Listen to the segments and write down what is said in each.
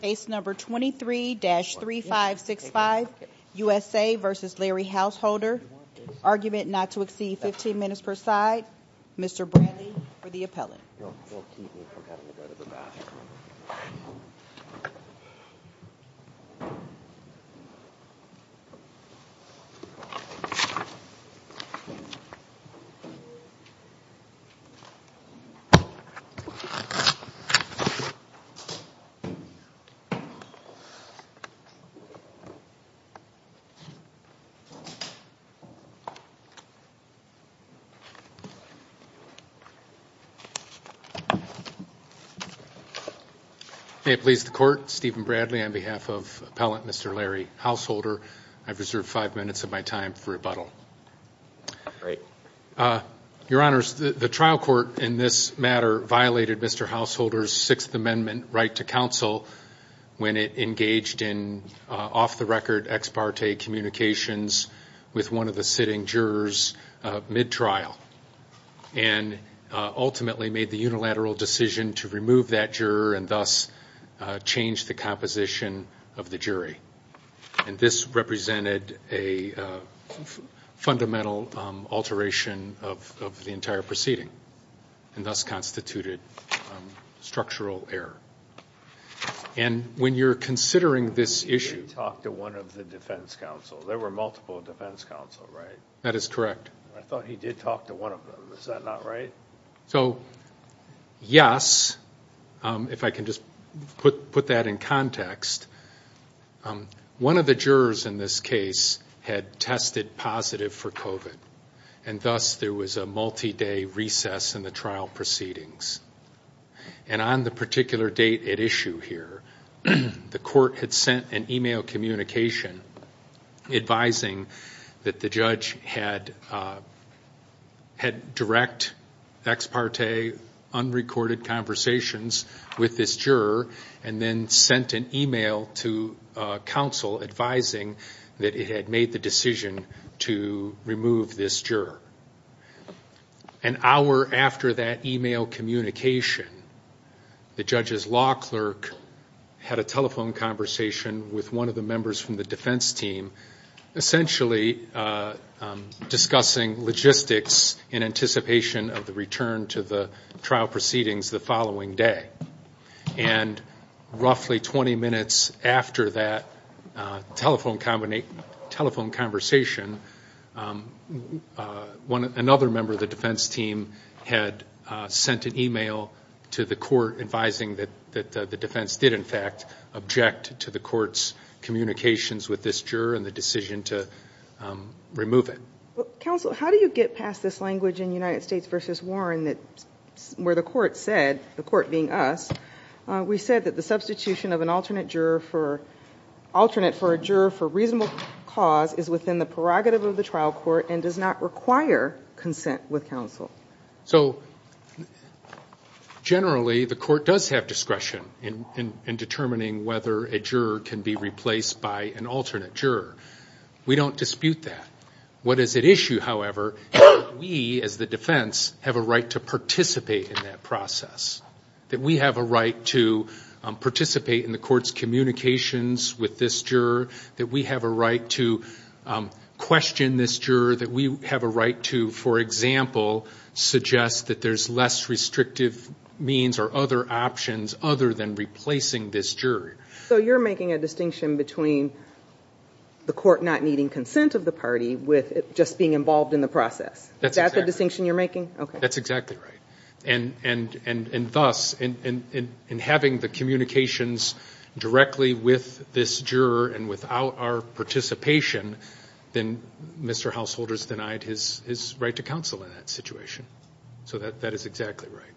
Case No. 23-3565 U.S.A. v. Larry Householder Argument not to exceed 15 minutes per side Mr. Bradley for the appellate May it please the Court, Stephen Bradley on behalf of appellate Mr. Larry Householder. I reserve five minutes of my time for rebuttal. Your Honors, the trial court in this matter violated Mr. Householder's First Amendment right to counsel when it engaged in off-the-record ex parte communications with one of the sitting jurors mid-trial and ultimately made the unilateral decision to remove that juror and thus change the composition of the jury. And this represented a fundamental alteration of the entire proceeding and thus constituted structural error. And when you're considering this issue... He did talk to one of the defense counsel. There were multiple defense counsel, right? That is correct. I thought he did talk to one of them. Is that not right? So, yes, if I can just put that in context. One of the jurors in this case had tested positive for COVID and thus there was a multi-day recess in the trial proceedings. And on the particular date at issue here, the court had sent an email communication advising that the judge had direct ex parte unrecorded conversations with this juror and then sent an email to counsel advising that it had made the decision to remove this juror. An hour after that email communication, the judge's law clerk had a telephone conversation with one of the members from the defense team, essentially discussing logistics in anticipation of the return to the trial proceedings the following day. And roughly 20 minutes after that telephone conversation, another member of the defense team had sent an email to the court advising that the defense did in fact object to the court's communications with this juror and the decision to remove it. Counsel, how do you get past this language in United States v. Warren where the court said, the court being us, we said that the substitution of an alternate for a juror for reasonable cause is within the prerogative of the trial court and does not require consent with counsel. So generally the court does have discretion in determining whether a juror can be replaced by an alternate juror. We don't dispute that. What is at issue, however, is that we as the defense have a right to participate in that process, that we have a right to participate in the court's communications with this juror, that we have a right to question this juror, that we have a right to, for example, suggest that there's less restrictive means or other options other than replacing this juror. So you're making a distinction between the court not needing consent of the party with it just being involved in the process. Is that the distinction you're making? That's exactly right. And thus, in having the communications directly with this juror and without our participation, then Mr. Householder's denied his right to counsel in that situation. So that is exactly right.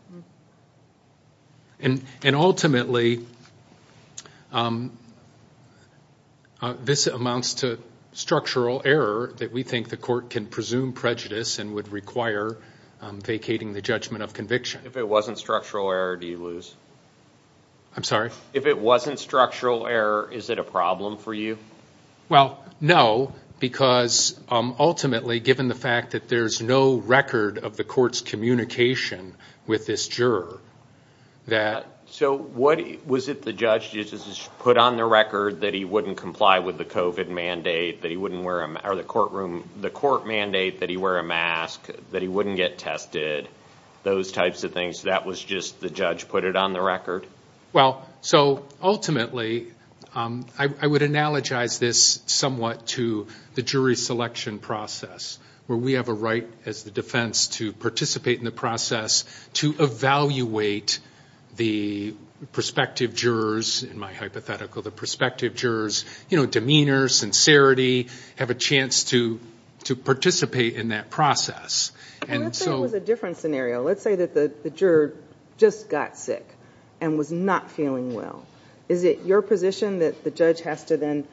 And ultimately, this amounts to structural error that we think the court can presume prejudice and would require vacating the judgment of conviction. If it wasn't structural error, do you lose? I'm sorry? If it wasn't structural error, is it a problem for you? Well, no, because ultimately, given the fact that there's no record of the court's communication with this juror, that... So was it the judge just put on the record that he wouldn't comply with the COVID mandate, that he wouldn't wear a mask, or the courtroom, the court mandate that he wear a mask, that he wouldn't get tested, those types of things? That was just the judge put it on the record? Well, so ultimately, I would analogize this somewhat to the jury selection process, where we have a right as the defense to participate in the process, to evaluate the prospective jurors, in my hypothetical, the prospective jurors' demeanor, sincerity, have a chance to participate in that process. Let's say it was a different scenario. Let's say that the juror just got sick and was not feeling well. Is it your position that the judge has to then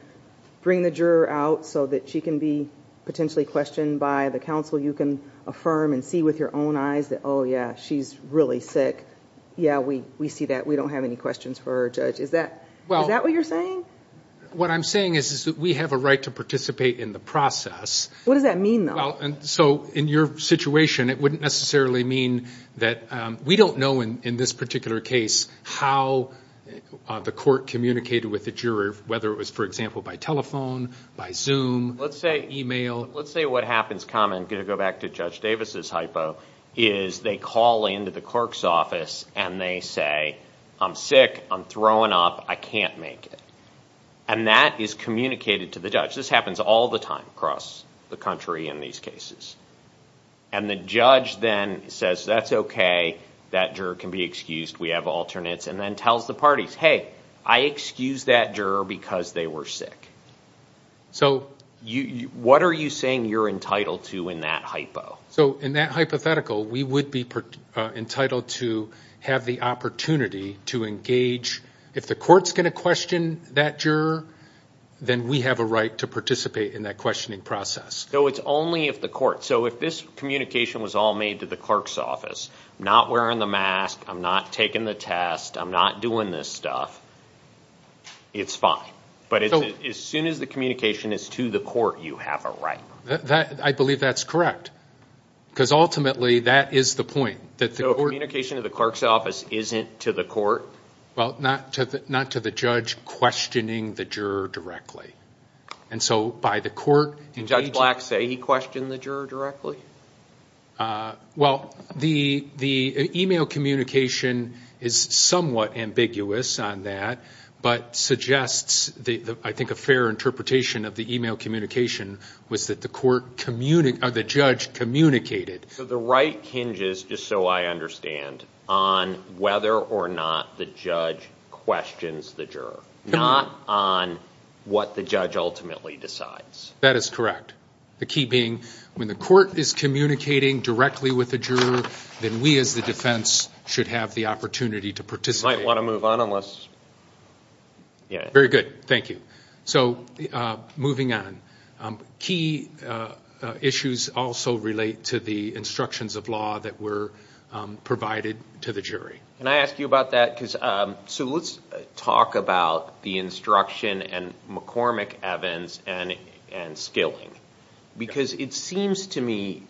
bring the juror out so that she can be potentially questioned by the counsel you can affirm and see with your own eyes that, oh, yeah, she's really sick? Yeah, we see that. We don't have any questions for her, Judge. Is that what you're saying? What I'm saying is that we have a right to participate in the process. What does that mean, though? Well, so in your situation, it wouldn't necessarily mean that we don't know in this particular case how the court communicated with the juror, whether it was, for example, by telephone, by Zoom. Let's say email. Let's say what happens common, going to go back to Judge Davis' hypo, is they call into the clerk's office and they say, I'm sick, I'm throwing up, I can't make it. And that is communicated to the judge. This happens all the time across the country in these cases. And the judge then says, that's okay, that juror can be excused, we have alternates, and then tells the parties, hey, I excused that juror because they were sick. So what are you saying you're entitled to in that hypo? So in that hypothetical, we would be entitled to have the opportunity to engage. If the court's going to question that juror, then we have a right to participate in that questioning process. So it's only if the court, so if this communication was all made to the clerk's office, not wearing the mask, I'm not taking the test, I'm not doing this stuff, it's fine. But as soon as the communication is to the court, you have a right. I believe that's correct, because ultimately that is the point. So communication to the clerk's office isn't to the court? Well, not to the judge questioning the juror directly. And so by the court engaging. Did Judge Black say he questioned the juror directly? Well, the e-mail communication is somewhat ambiguous on that, but suggests I think a fair interpretation of the e-mail communication was that the judge communicated. So the right hinges, just so I understand, on whether or not the judge questions the juror, not on what the judge ultimately decides. That is correct. The key being when the court is communicating directly with the juror, then we as the defense should have the opportunity to participate. You might want to move on unless. Very good. Thank you. So moving on. Key issues also relate to the instructions of law that were provided to the jury. Can I ask you about that? So let's talk about the instruction and McCormick, Evans, and Skilling. Because it seems to me,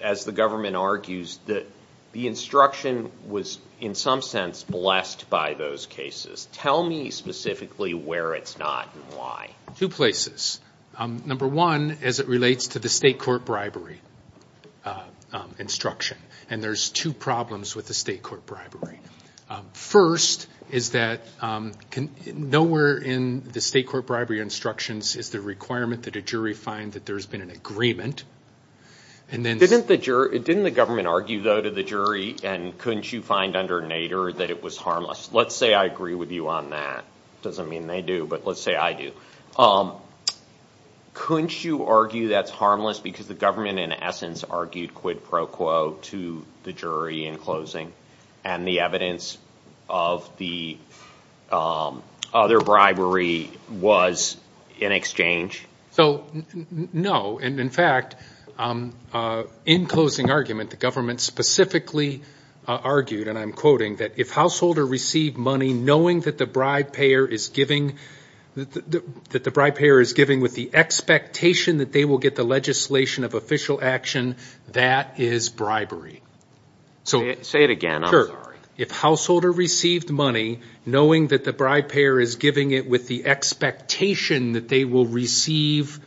as the government argues, that the instruction was in some sense blessed by those cases. Tell me specifically where it's not and why. Two places. Number one, as it relates to the state court bribery instruction. And there's two problems with the state court bribery. First is that nowhere in the state court bribery instructions is the requirement that a jury find that there's been an agreement. Didn't the government argue, though, to the jury, and couldn't you find under Nader that it was harmless? Let's say I agree with you on that. It doesn't mean they do, but let's say I do. Couldn't you argue that's harmless because the government, in essence, argued quid pro quo to the jury in closing and the evidence of the other bribery was in exchange? No. In fact, in closing argument, the government specifically argued, and I'm quoting, that if householder received money knowing that the bribe payer is giving with the expectation that they will get the legislation of official action, that is bribery. Say it again. If householder received money knowing that the bribe payer is giving it with the expectation that they will receive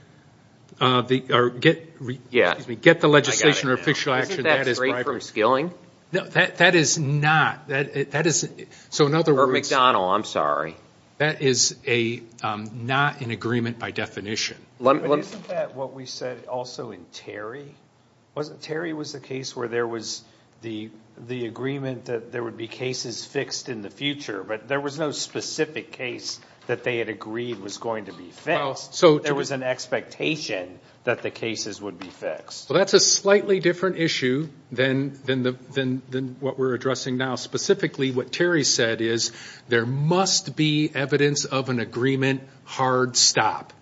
or get the legislation or official action, that is bribery. Isn't that great for skilling? No. That is not. That is, so in other words. Or McDonald, I'm sorry. That is not an agreement by definition. But isn't that what we said also in Terry? Terry was the case where there was the agreement that there would be cases fixed in the future, but there was no specific case that they had agreed was going to be fixed. There was an expectation that the cases would be fixed. Well, that's a slightly different issue than what we're addressing now. Specifically, what Terry said is there must be evidence of an agreement, hard stop.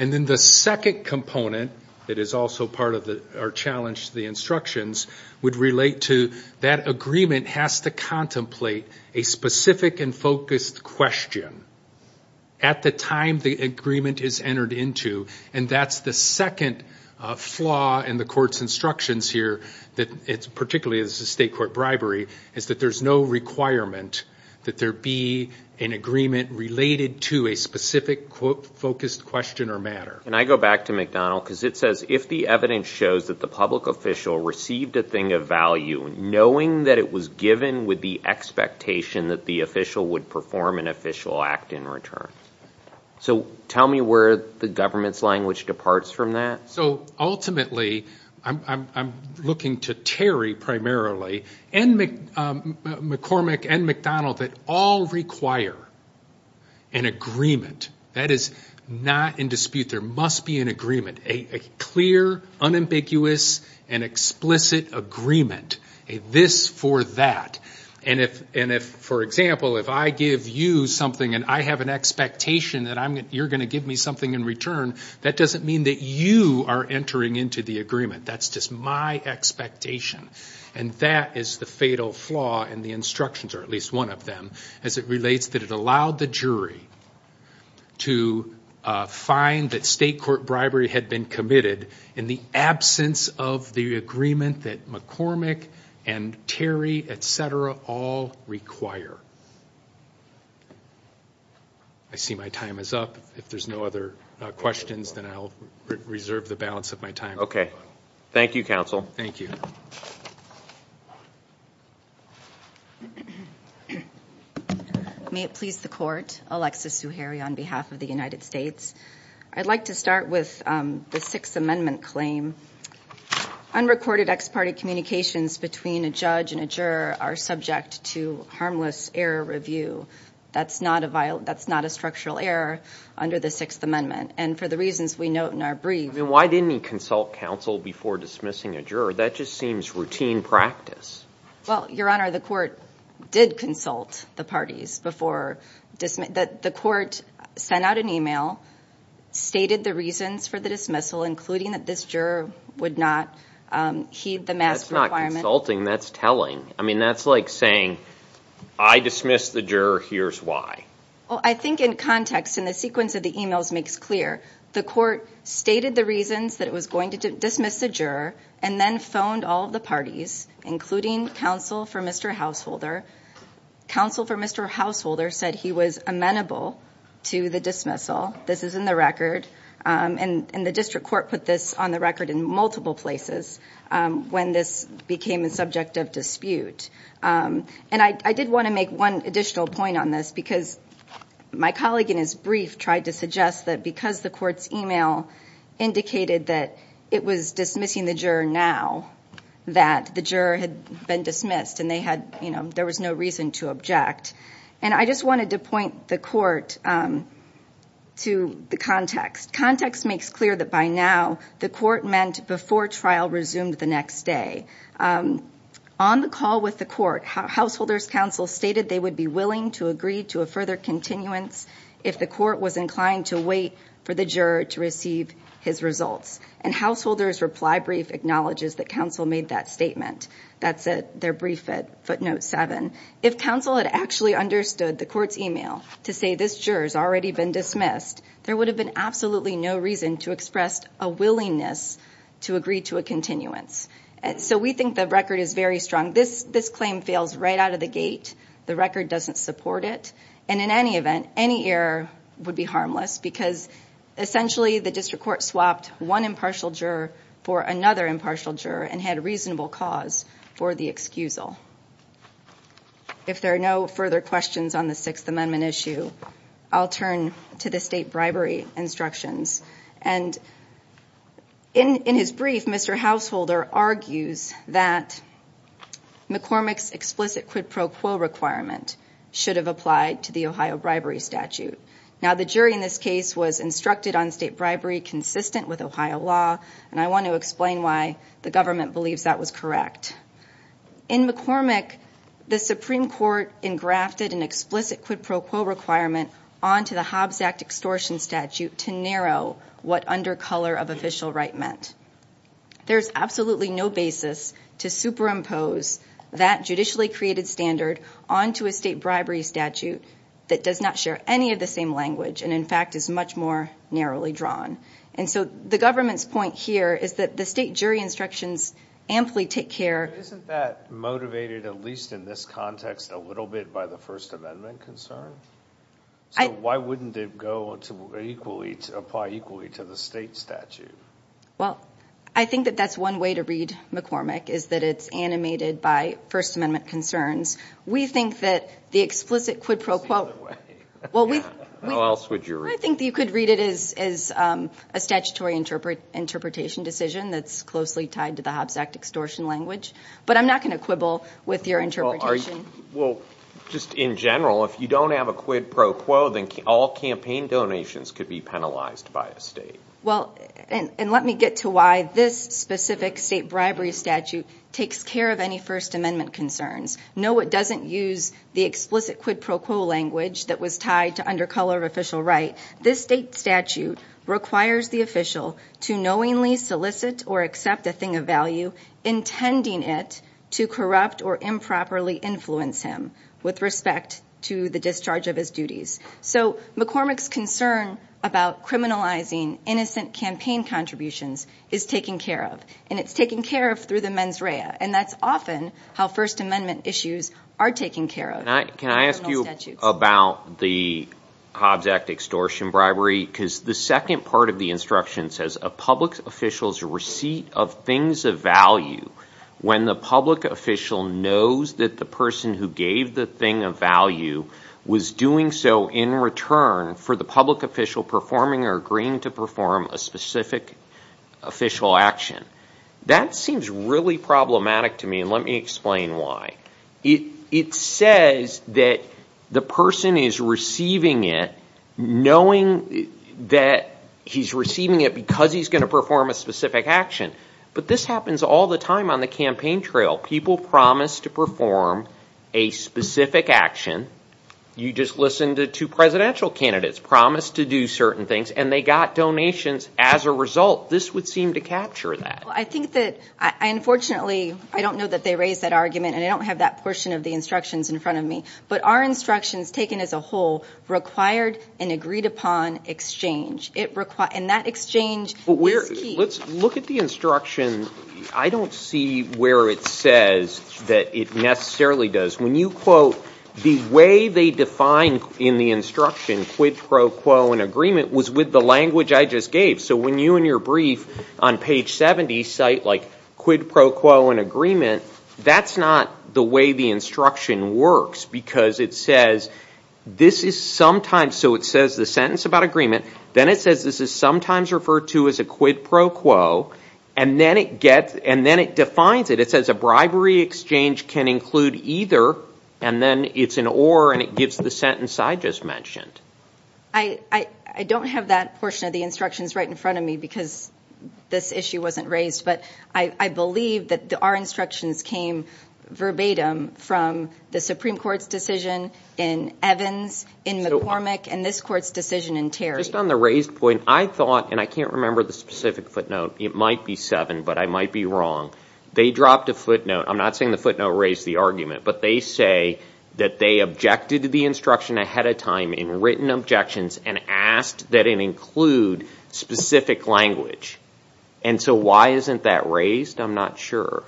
And then the second component that is also part of our challenge to the instructions would relate to that agreement has to contemplate a specific and focused question at the time the agreement is entered into, and that's the second flaw in the court's instructions here, particularly as a state court bribery, is that there's no requirement that there be an agreement related to a specific focused question or matter. And I go back to McDonald because it says, if the evidence shows that the public official received a thing of value, knowing that it was given with the expectation that the official would perform an official act in return. So tell me where the government's language departs from that. So ultimately, I'm looking to Terry primarily and McCormick and McDonald that all require an agreement. That is not in dispute. There must be an agreement, a clear, unambiguous, and explicit agreement, a this for that. And if, for example, if I give you something and I have an expectation that you're going to give me something in return, that doesn't mean that you are entering into the agreement. That's just my expectation. And that is the fatal flaw in the instructions, or at least one of them, as it relates that it allowed the jury to find that state court bribery had been committed in the absence of the agreement that McCormick and Terry, et cetera, all require. I see my time is up. If there's no other questions, then I'll reserve the balance of my time. Thank you, counsel. Thank you. May it please the court. Alexis Zuhairi on behalf of the United States. I'd like to start with the Sixth Amendment claim. Unrecorded ex parte communications between a judge and a juror are subject to harmless error review. That's not a structural error under the Sixth Amendment. And for the reasons we note in our brief. Why didn't he consult counsel before dismissing a juror? That just seems routine practice. Well, Your Honor, the court did consult the parties before. The court sent out an email, stated the reasons for the dismissal, including that this juror would not heed the mask requirement. That's not consulting. That's telling. I mean, that's like saying, I dismissed the juror. Here's why. Well, I think in context, in the sequence of the emails makes clear. The court stated the reasons that it was going to dismiss the juror, and then phoned all of the parties, including counsel for Mr. Householder. Counsel for Mr. Householder said he was amenable to the dismissal. This is in the record. And the district court put this on the record in multiple places when this became a subject of dispute. And I did want to make one additional point on this, because my colleague in his brief tried to suggest that because the court's email indicated that it was dismissing the juror now, that the juror had been dismissed and there was no reason to object. And I just wanted to point the court to the context. Context makes clear that by now the court meant before trial resumed the next day. On the call with the court, Householder's counsel stated they would be willing to agree to a further continuance if the court was inclined to wait for the juror to receive his results. And Householder's reply brief acknowledges that counsel made that statement. That's their brief at footnote 7. If counsel had actually understood the court's email to say this juror has already been dismissed, there would have been absolutely no reason to express a willingness to agree to a continuance. So we think the record is very strong. This claim fails right out of the gate. The record doesn't support it. And in any event, any error would be harmless, because essentially the district court swapped one impartial juror for another impartial juror and had a reasonable cause for the excusal. If there are no further questions on the Sixth Amendment issue, I'll turn to the state bribery instructions. And in his brief, Mr. Householder argues that McCormick's explicit quid pro quo requirement should have applied to the Ohio bribery statute. Now, the jury in this case was instructed on state bribery consistent with Ohio law, and I want to explain why the government believes that was correct. In McCormick, the Supreme Court engrafted an explicit quid pro quo requirement onto the Hobbs Act extortion statute to narrow what under color of official right meant. There's absolutely no basis to superimpose that judicially created standard onto a state bribery statute that does not share any of the same language and, in fact, is much more narrowly drawn. And so the government's point here is that the state jury instructions amply take care. Isn't that motivated, at least in this context, a little bit by the First Amendment concern? So why wouldn't it apply equally to the state statute? Well, I think that that's one way to read McCormick, is that it's animated by First Amendment concerns. We think that the explicit quid pro quo. How else would you read it? I think that you could read it as a statutory interpretation decision that's closely tied to the Hobbs Act extortion language, but I'm not going to quibble with your interpretation. Well, just in general, if you don't have a quid pro quo, then all campaign donations could be penalized by a state. Well, and let me get to why this specific state bribery statute takes care of any First Amendment concerns. No, it doesn't use the explicit quid pro quo language that was tied to undercolor official right. This state statute requires the official to knowingly solicit or accept a thing of value, intending it to corrupt or improperly influence him with respect to the discharge of his duties. So McCormick's concern about criminalizing innocent campaign contributions is taken care of, and it's taken care of through the mens rea, and that's often how First Amendment issues are taken care of. Can I ask you about the Hobbs Act extortion bribery? Because the second part of the instruction says, a public official's receipt of things of value, when the public official knows that the person who gave the thing of value was doing so in return for the public official performing or agreeing to perform a specific official action. That seems really problematic to me, and let me explain why. It says that the person is receiving it, knowing that he's receiving it because he's going to perform a specific action. But this happens all the time on the campaign trail. People promise to perform a specific action. You just listen to two presidential candidates promise to do certain things, and they got donations as a result. This would seem to capture that. Unfortunately, I don't know that they raised that argument, and I don't have that portion of the instructions in front of me, but our instructions taken as a whole required an agreed-upon exchange, and that exchange is key. Let's look at the instruction. I don't see where it says that it necessarily does. When you quote, the way they define in the instruction, quid pro quo and agreement, was with the language I just gave. So when you in your brief on page 70 cite quid pro quo and agreement, that's not the way the instruction works because it says this is sometimes, so it says the sentence about agreement, then it says this is sometimes referred to as a quid pro quo, and then it defines it. It says a bribery exchange can include either, and then it's an or and it gives the sentence I just mentioned. I don't have that portion of the instructions right in front of me because this issue wasn't raised, but I believe that our instructions came verbatim from the Supreme Court's decision in Evans, in McCormick, and this Court's decision in Terry. Just on the raised point, I thought, and I can't remember the specific footnote. It might be seven, but I might be wrong. They dropped a footnote. I'm not saying the footnote raised the argument, but they say that they objected to the instruction ahead of time in written objections and asked that it include specific language. And so why isn't that raised? I'm not sure.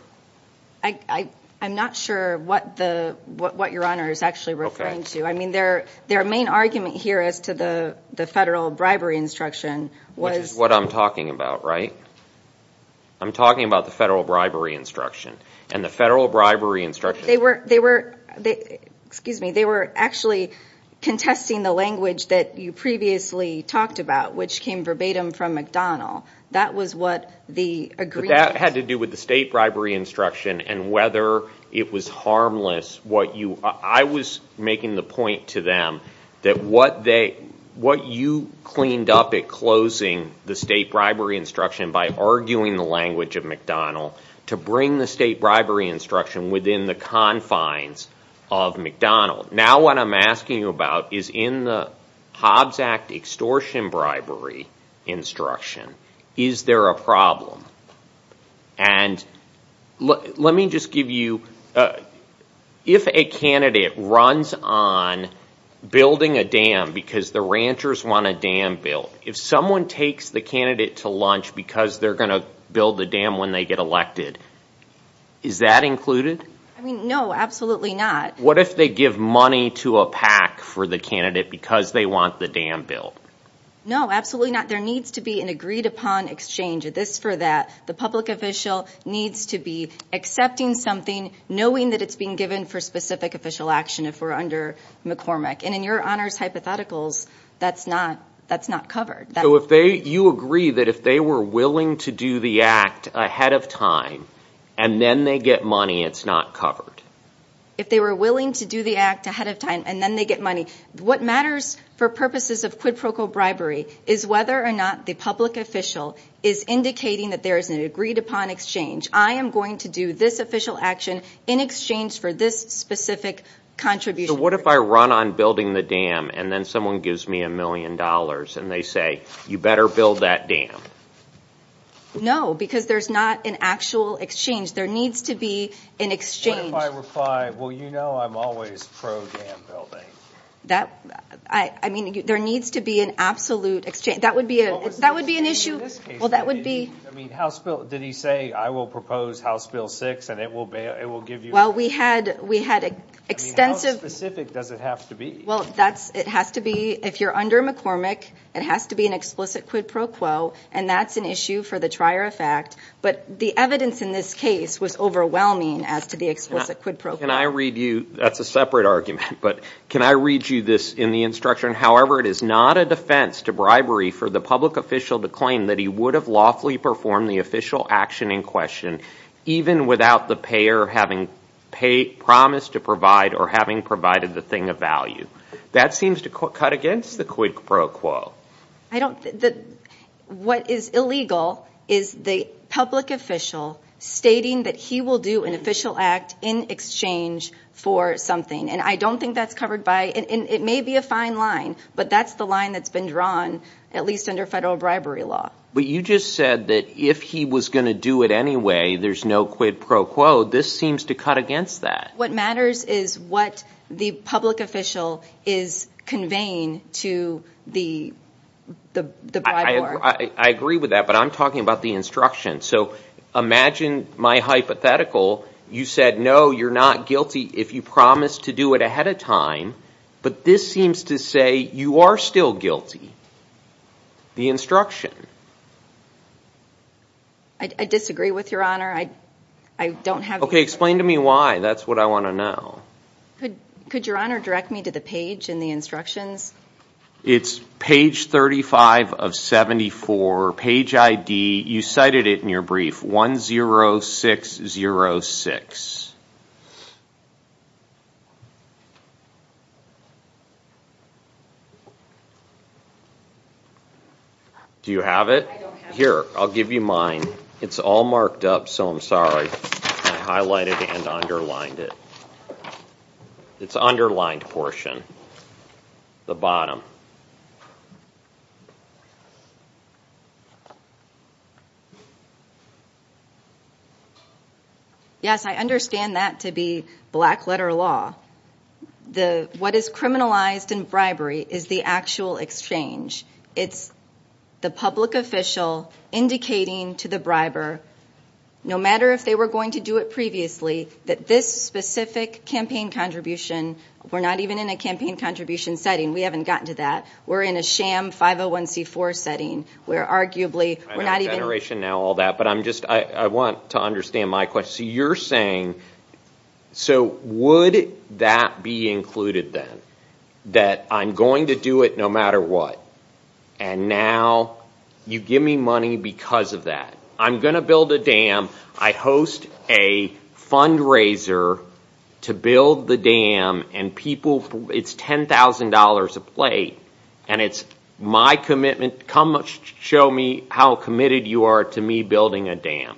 I'm not sure what Your Honor is actually referring to. I mean their main argument here as to the federal bribery instruction was... Which is what I'm talking about, right? I'm talking about the federal bribery instruction, and the federal bribery instruction... They were actually contesting the language that you previously talked about, which came verbatim from McDonnell. That was what the agreement... But that had to do with the state bribery instruction and whether it was harmless. I was making the point to them that what you cleaned up at closing the state bribery instruction by arguing the language of McDonnell to bring the state bribery instruction within the confines of McDonnell. Now what I'm asking you about is in the Hobbs Act extortion bribery instruction, is there a problem? And let me just give you... If a candidate runs on building a dam because the ranchers want a dam built, if someone takes the candidate to lunch because they're going to build the dam when they get elected, is that included? No, absolutely not. What if they give money to a PAC for the candidate because they want the dam built? No, absolutely not. There needs to be an agreed upon exchange of this for that. The public official needs to be accepting something, knowing that it's being given for specific official action if we're under McCormick. And in your honors hypotheticals, that's not covered. So you agree that if they were willing to do the act ahead of time and then they get money, it's not covered? If they were willing to do the act ahead of time and then they get money. What matters for purposes of quid pro quo bribery is whether or not the public official is indicating that there is an agreed upon exchange. I am going to do this official action in exchange for this specific contribution. So what if I run on building the dam and then someone gives me a million dollars and they say, you better build that dam? No, because there's not an actual exchange. There needs to be an exchange. What if I reply, well, you know I'm always pro-dam building. I mean, there needs to be an absolute exchange. That would be an issue. Well, in this case, did he say, I will propose House Bill 6 and it will give you. Well, we had extensive. How specific does it have to be? Well, it has to be, if you're under McCormick, it has to be an explicit quid pro quo, and that's an issue for the trier of fact. But the evidence in this case was overwhelming as to the explicit quid pro quo. Can I read you, that's a separate argument, but can I read you this in the instruction, however it is not a defense to bribery for the public official to claim that he would have lawfully performed the official action in question even without the payer having promised to provide or having provided the thing of value. That seems to cut against the quid pro quo. I don't, what is illegal is the public official stating that he will do an official act in exchange for something, and I don't think that's covered by, and it may be a fine line, but that's the line that's been drawn, at least under federal bribery law. But you just said that if he was going to do it anyway, there's no quid pro quo. This seems to cut against that. What matters is what the public official is conveying to the briber. I agree with that, but I'm talking about the instruction. So imagine my hypothetical, you said no, you're not guilty if you promise to do it ahead of time, but this seems to say you are still guilty. The instruction. I disagree with Your Honor. Okay, explain to me why. That's what I want to know. Could Your Honor direct me to the page in the instructions? It's page 35 of 74, page ID, you cited it in your brief, 10606. Do you have it? I don't have it. Here, I'll give you mine. It's all marked up, so I'm sorry. I highlighted and underlined it. It's underlined portion, the bottom. Yes, I understand that to be black letter law. What is criminalized in bribery is the actual exchange. It's the public official indicating to the briber, no matter if they were going to do it previously, that this specific campaign contribution, we're not even in a campaign contribution setting. We haven't gotten to that. We're in a sham 501c4 setting. We're arguably, we're not even. I know veneration now, all that, but I want to understand my question. You're saying, so would that be included then, that I'm going to do it no matter what, and now you give me money because of that. I'm going to build a dam. I host a fundraiser to build the dam, and people, it's $10,000 a plate, and it's my commitment. Come show me how committed you are to me building a dam.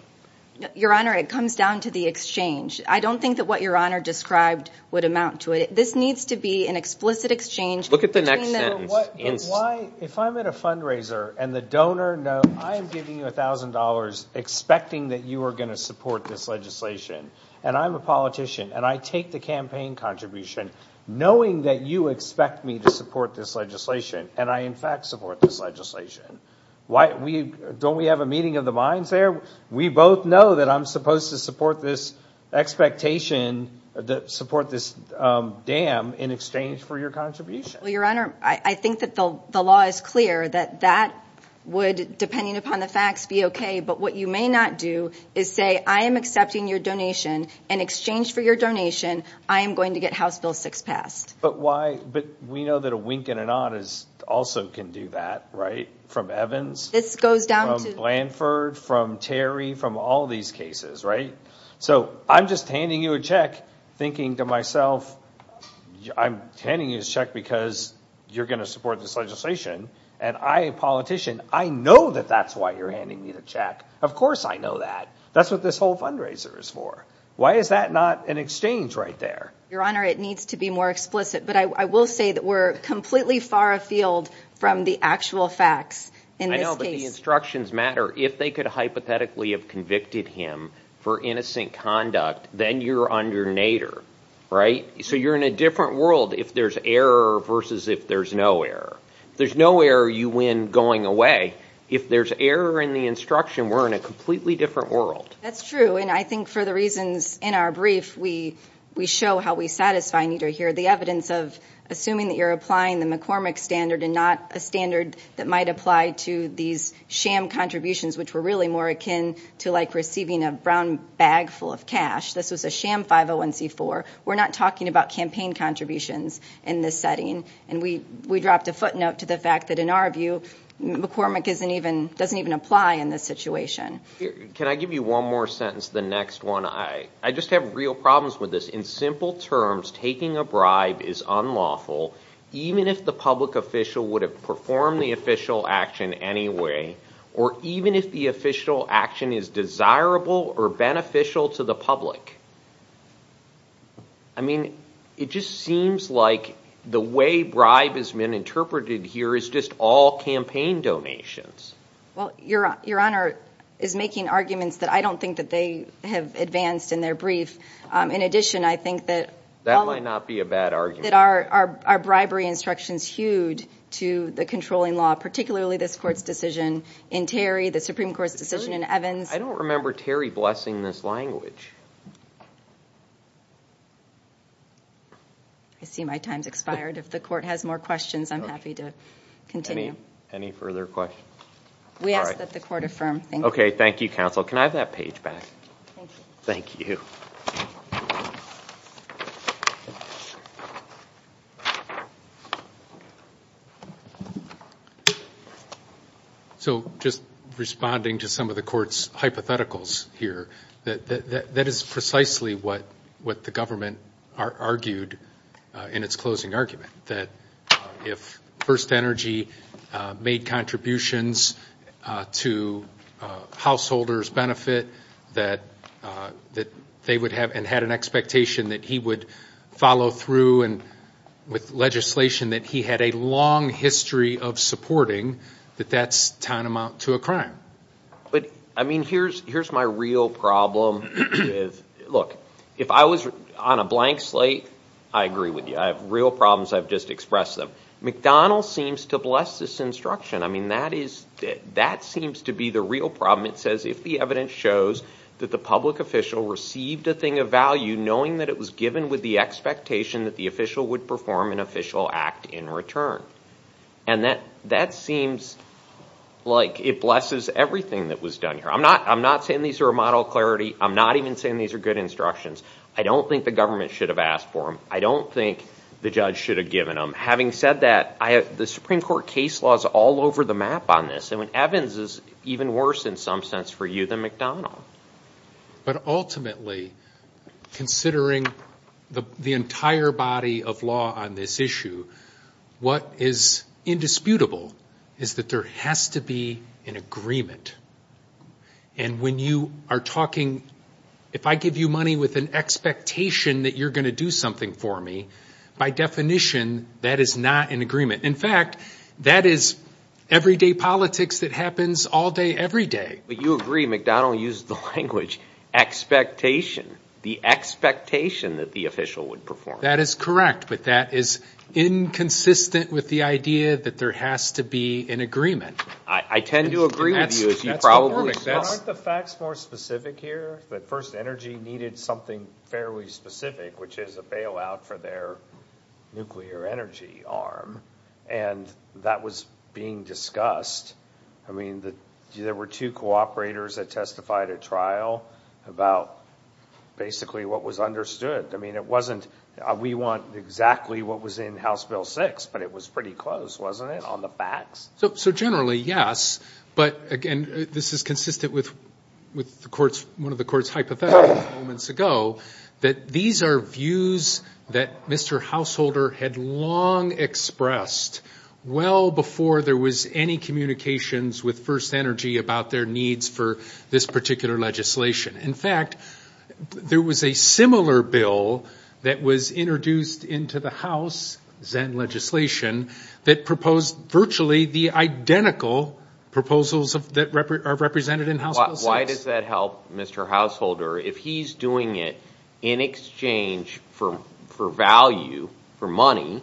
Your Honor, it comes down to the exchange. I don't think that what Your Honor described would amount to it. This needs to be an explicit exchange. Look at the next sentence. Why, if I'm at a fundraiser, and the donor knows I am giving you $1,000 expecting that you are going to support this legislation, and I'm a politician, and I take the campaign contribution, knowing that you expect me to support this legislation, and I, in fact, support this legislation. Don't we have a meeting of the minds there? We both know that I'm supposed to support this expectation, support this dam, in exchange for your contribution. Well, Your Honor, I think that the law is clear that that would, depending upon the facts, be okay, but what you may not do is say, I am accepting your donation, and in exchange for your donation, I am going to get House Bill 6 passed. But we know that a wink and a nod also can do that, right, from Evans, from Blanford, from Terry, from all these cases, right? So I'm just handing you a check, thinking to myself, I'm handing you this check because you're going to support this legislation, and I, a politician, I know that that's why you're handing me the check. Of course I know that. That's what this whole fundraiser is for. Why is that not an exchange right there? Your Honor, it needs to be more explicit, but I will say that we're completely far afield from the actual facts in this case. The instructions matter. If they could hypothetically have convicted him for innocent conduct, then you're under Nader, right? So you're in a different world if there's error versus if there's no error. If there's no error, you win going away. If there's error in the instruction, we're in a completely different world. That's true, and I think for the reasons in our brief we show how we satisfy Nader here, the evidence of assuming that you're applying the McCormick standard and not a standard that might apply to these sham contributions, which were really more akin to like receiving a brown bag full of cash. This was a sham 501C4. We're not talking about campaign contributions in this setting, and we dropped a footnote to the fact that, in our view, McCormick doesn't even apply in this situation. Can I give you one more sentence, the next one? I just have real problems with this. In simple terms, taking a bribe is unlawful, even if the public official would have performed the official action anyway or even if the official action is desirable or beneficial to the public. I mean, it just seems like the way bribe has been interpreted here is just all campaign donations. Well, Your Honor is making arguments that I don't think that they have advanced in their brief. In addition, I think that our bribery instructions hewed to the controlling law, particularly this Court's decision in Terry, the Supreme Court's decision in Evans. I don't remember Terry blessing this language. I see my time's expired. If the Court has more questions, I'm happy to continue. Any further questions? We ask that the Court affirm. Okay, thank you, counsel. Can I have that page back? Thank you. Thank you. So just responding to some of the Court's hypotheticals here, that is precisely what the government argued in its closing argument, that if First Energy made contributions to householders' benefit, that they would have and had an expectation that he would follow through with legislation, that he had a long history of supporting that that's tantamount to a crime. But, I mean, here's my real problem. Look, if I was on a blank slate, I agree with you. I have real problems. I've just expressed them. McDonald seems to bless this instruction. I mean, that seems to be the real problem. It says, if the evidence shows that the public official received a thing of value, knowing that it was given with the expectation that the official would perform an official act in return. And that seems like it blesses everything that was done here. I'm not saying these are a model of clarity. I'm not even saying these are good instructions. I don't think the government should have asked for them. I don't think the judge should have given them. Having said that, the Supreme Court case law is all over the map on this. I mean, Evans is even worse in some sense for you than McDonald. But ultimately, considering the entire body of law on this issue, what is indisputable is that there has to be an agreement. And when you are talking, if I give you money with an expectation that you're going to do something for me, by definition, that is not an agreement. In fact, that is everyday politics that happens all day, every day. But you agree McDonald used the language expectation. The expectation that the official would perform. That is correct, but that is inconsistent with the idea that there has to be an agreement. I tend to agree with you. Aren't the facts more specific here? The First Energy needed something fairly specific, which is a bailout for their nuclear energy arm. And that was being discussed. I mean, there were two cooperators that testified at trial about basically what was understood. I mean, it wasn't we want exactly what was in House Bill 6, but it was pretty close, wasn't it, on the facts? So generally, yes. But, again, this is consistent with one of the court's hypothetical moments ago, that these are views that Mr. Householder had long expressed well before there was any communications with First Energy about their needs for this particular legislation. In fact, there was a similar bill that was introduced into the House, that proposed virtually the identical proposals that are represented in House Bill 6. Why does that help, Mr. Householder? If he's doing it in exchange for value, for money,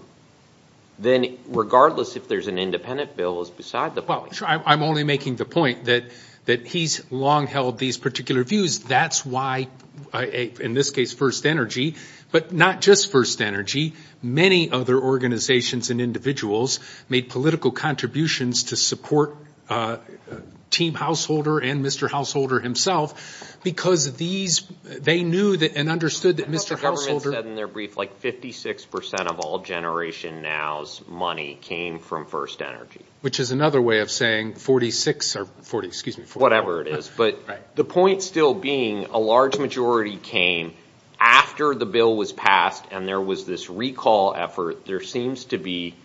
then regardless if there's an independent bill is beside the point. I'm only making the point that he's long held these particular views. That's why, in this case, First Energy, but not just First Energy. Many other organizations and individuals made political contributions to support Team Householder and Mr. Householder himself, because they knew and understood that Mr. Householder I thought the government said in their brief, like, 56% of all Generation Now's money came from First Energy. Which is another way of saying 46, or 40, excuse me. Whatever it is. But the point still being, a large majority came after the bill was passed, and there was this recall effort. There seems to be,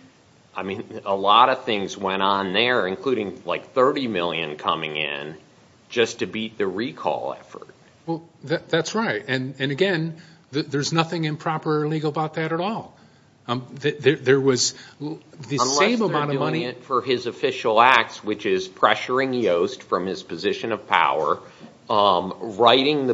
I mean, a lot of things went on there, including like 30 million coming in, just to beat the recall effort. Well, that's right. And again, there's nothing improper or illegal about that at all. Unless they're doing it for his official acts, which is pressuring Yost from his position of power, writing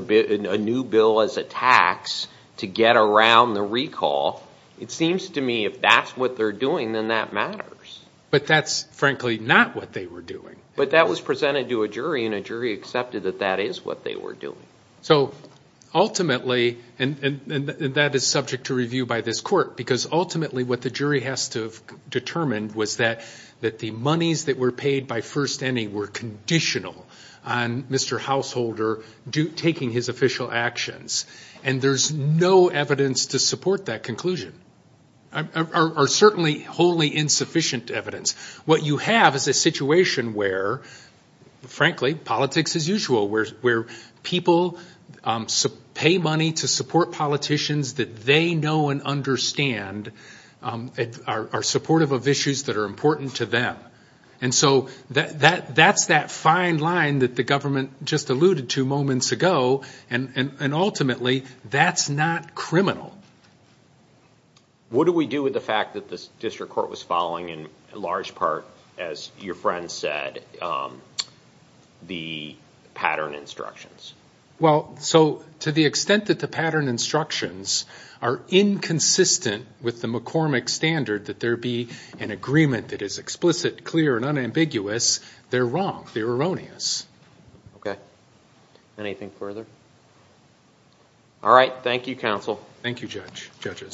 a new bill as a tax to get around the recall. It seems to me if that's what they're doing, then that matters. But that's, frankly, not what they were doing. But that was presented to a jury, and a jury accepted that that is what they were doing. So ultimately, and that is subject to review by this court, because ultimately what the jury has to have determined was that the monies that were paid by First Energy were conditional on Mr. Householder taking his official actions. And there's no evidence to support that conclusion. Or certainly wholly insufficient evidence. What you have is a situation where, frankly, politics as usual, where people pay money to support politicians that they know and understand, are supportive of issues that are important to them. And so that's that fine line that the government just alluded to moments ago. And ultimately, that's not criminal. What do we do with the fact that the district court was following in large part, as your friend said, the pattern instructions? Well, so to the extent that the pattern instructions are inconsistent with the McCormick standard, that there be an agreement that is explicit, clear, and unambiguous, they're wrong. They're erroneous. Okay. Anything further? All right. Thank you, counsel. Thank you, judges.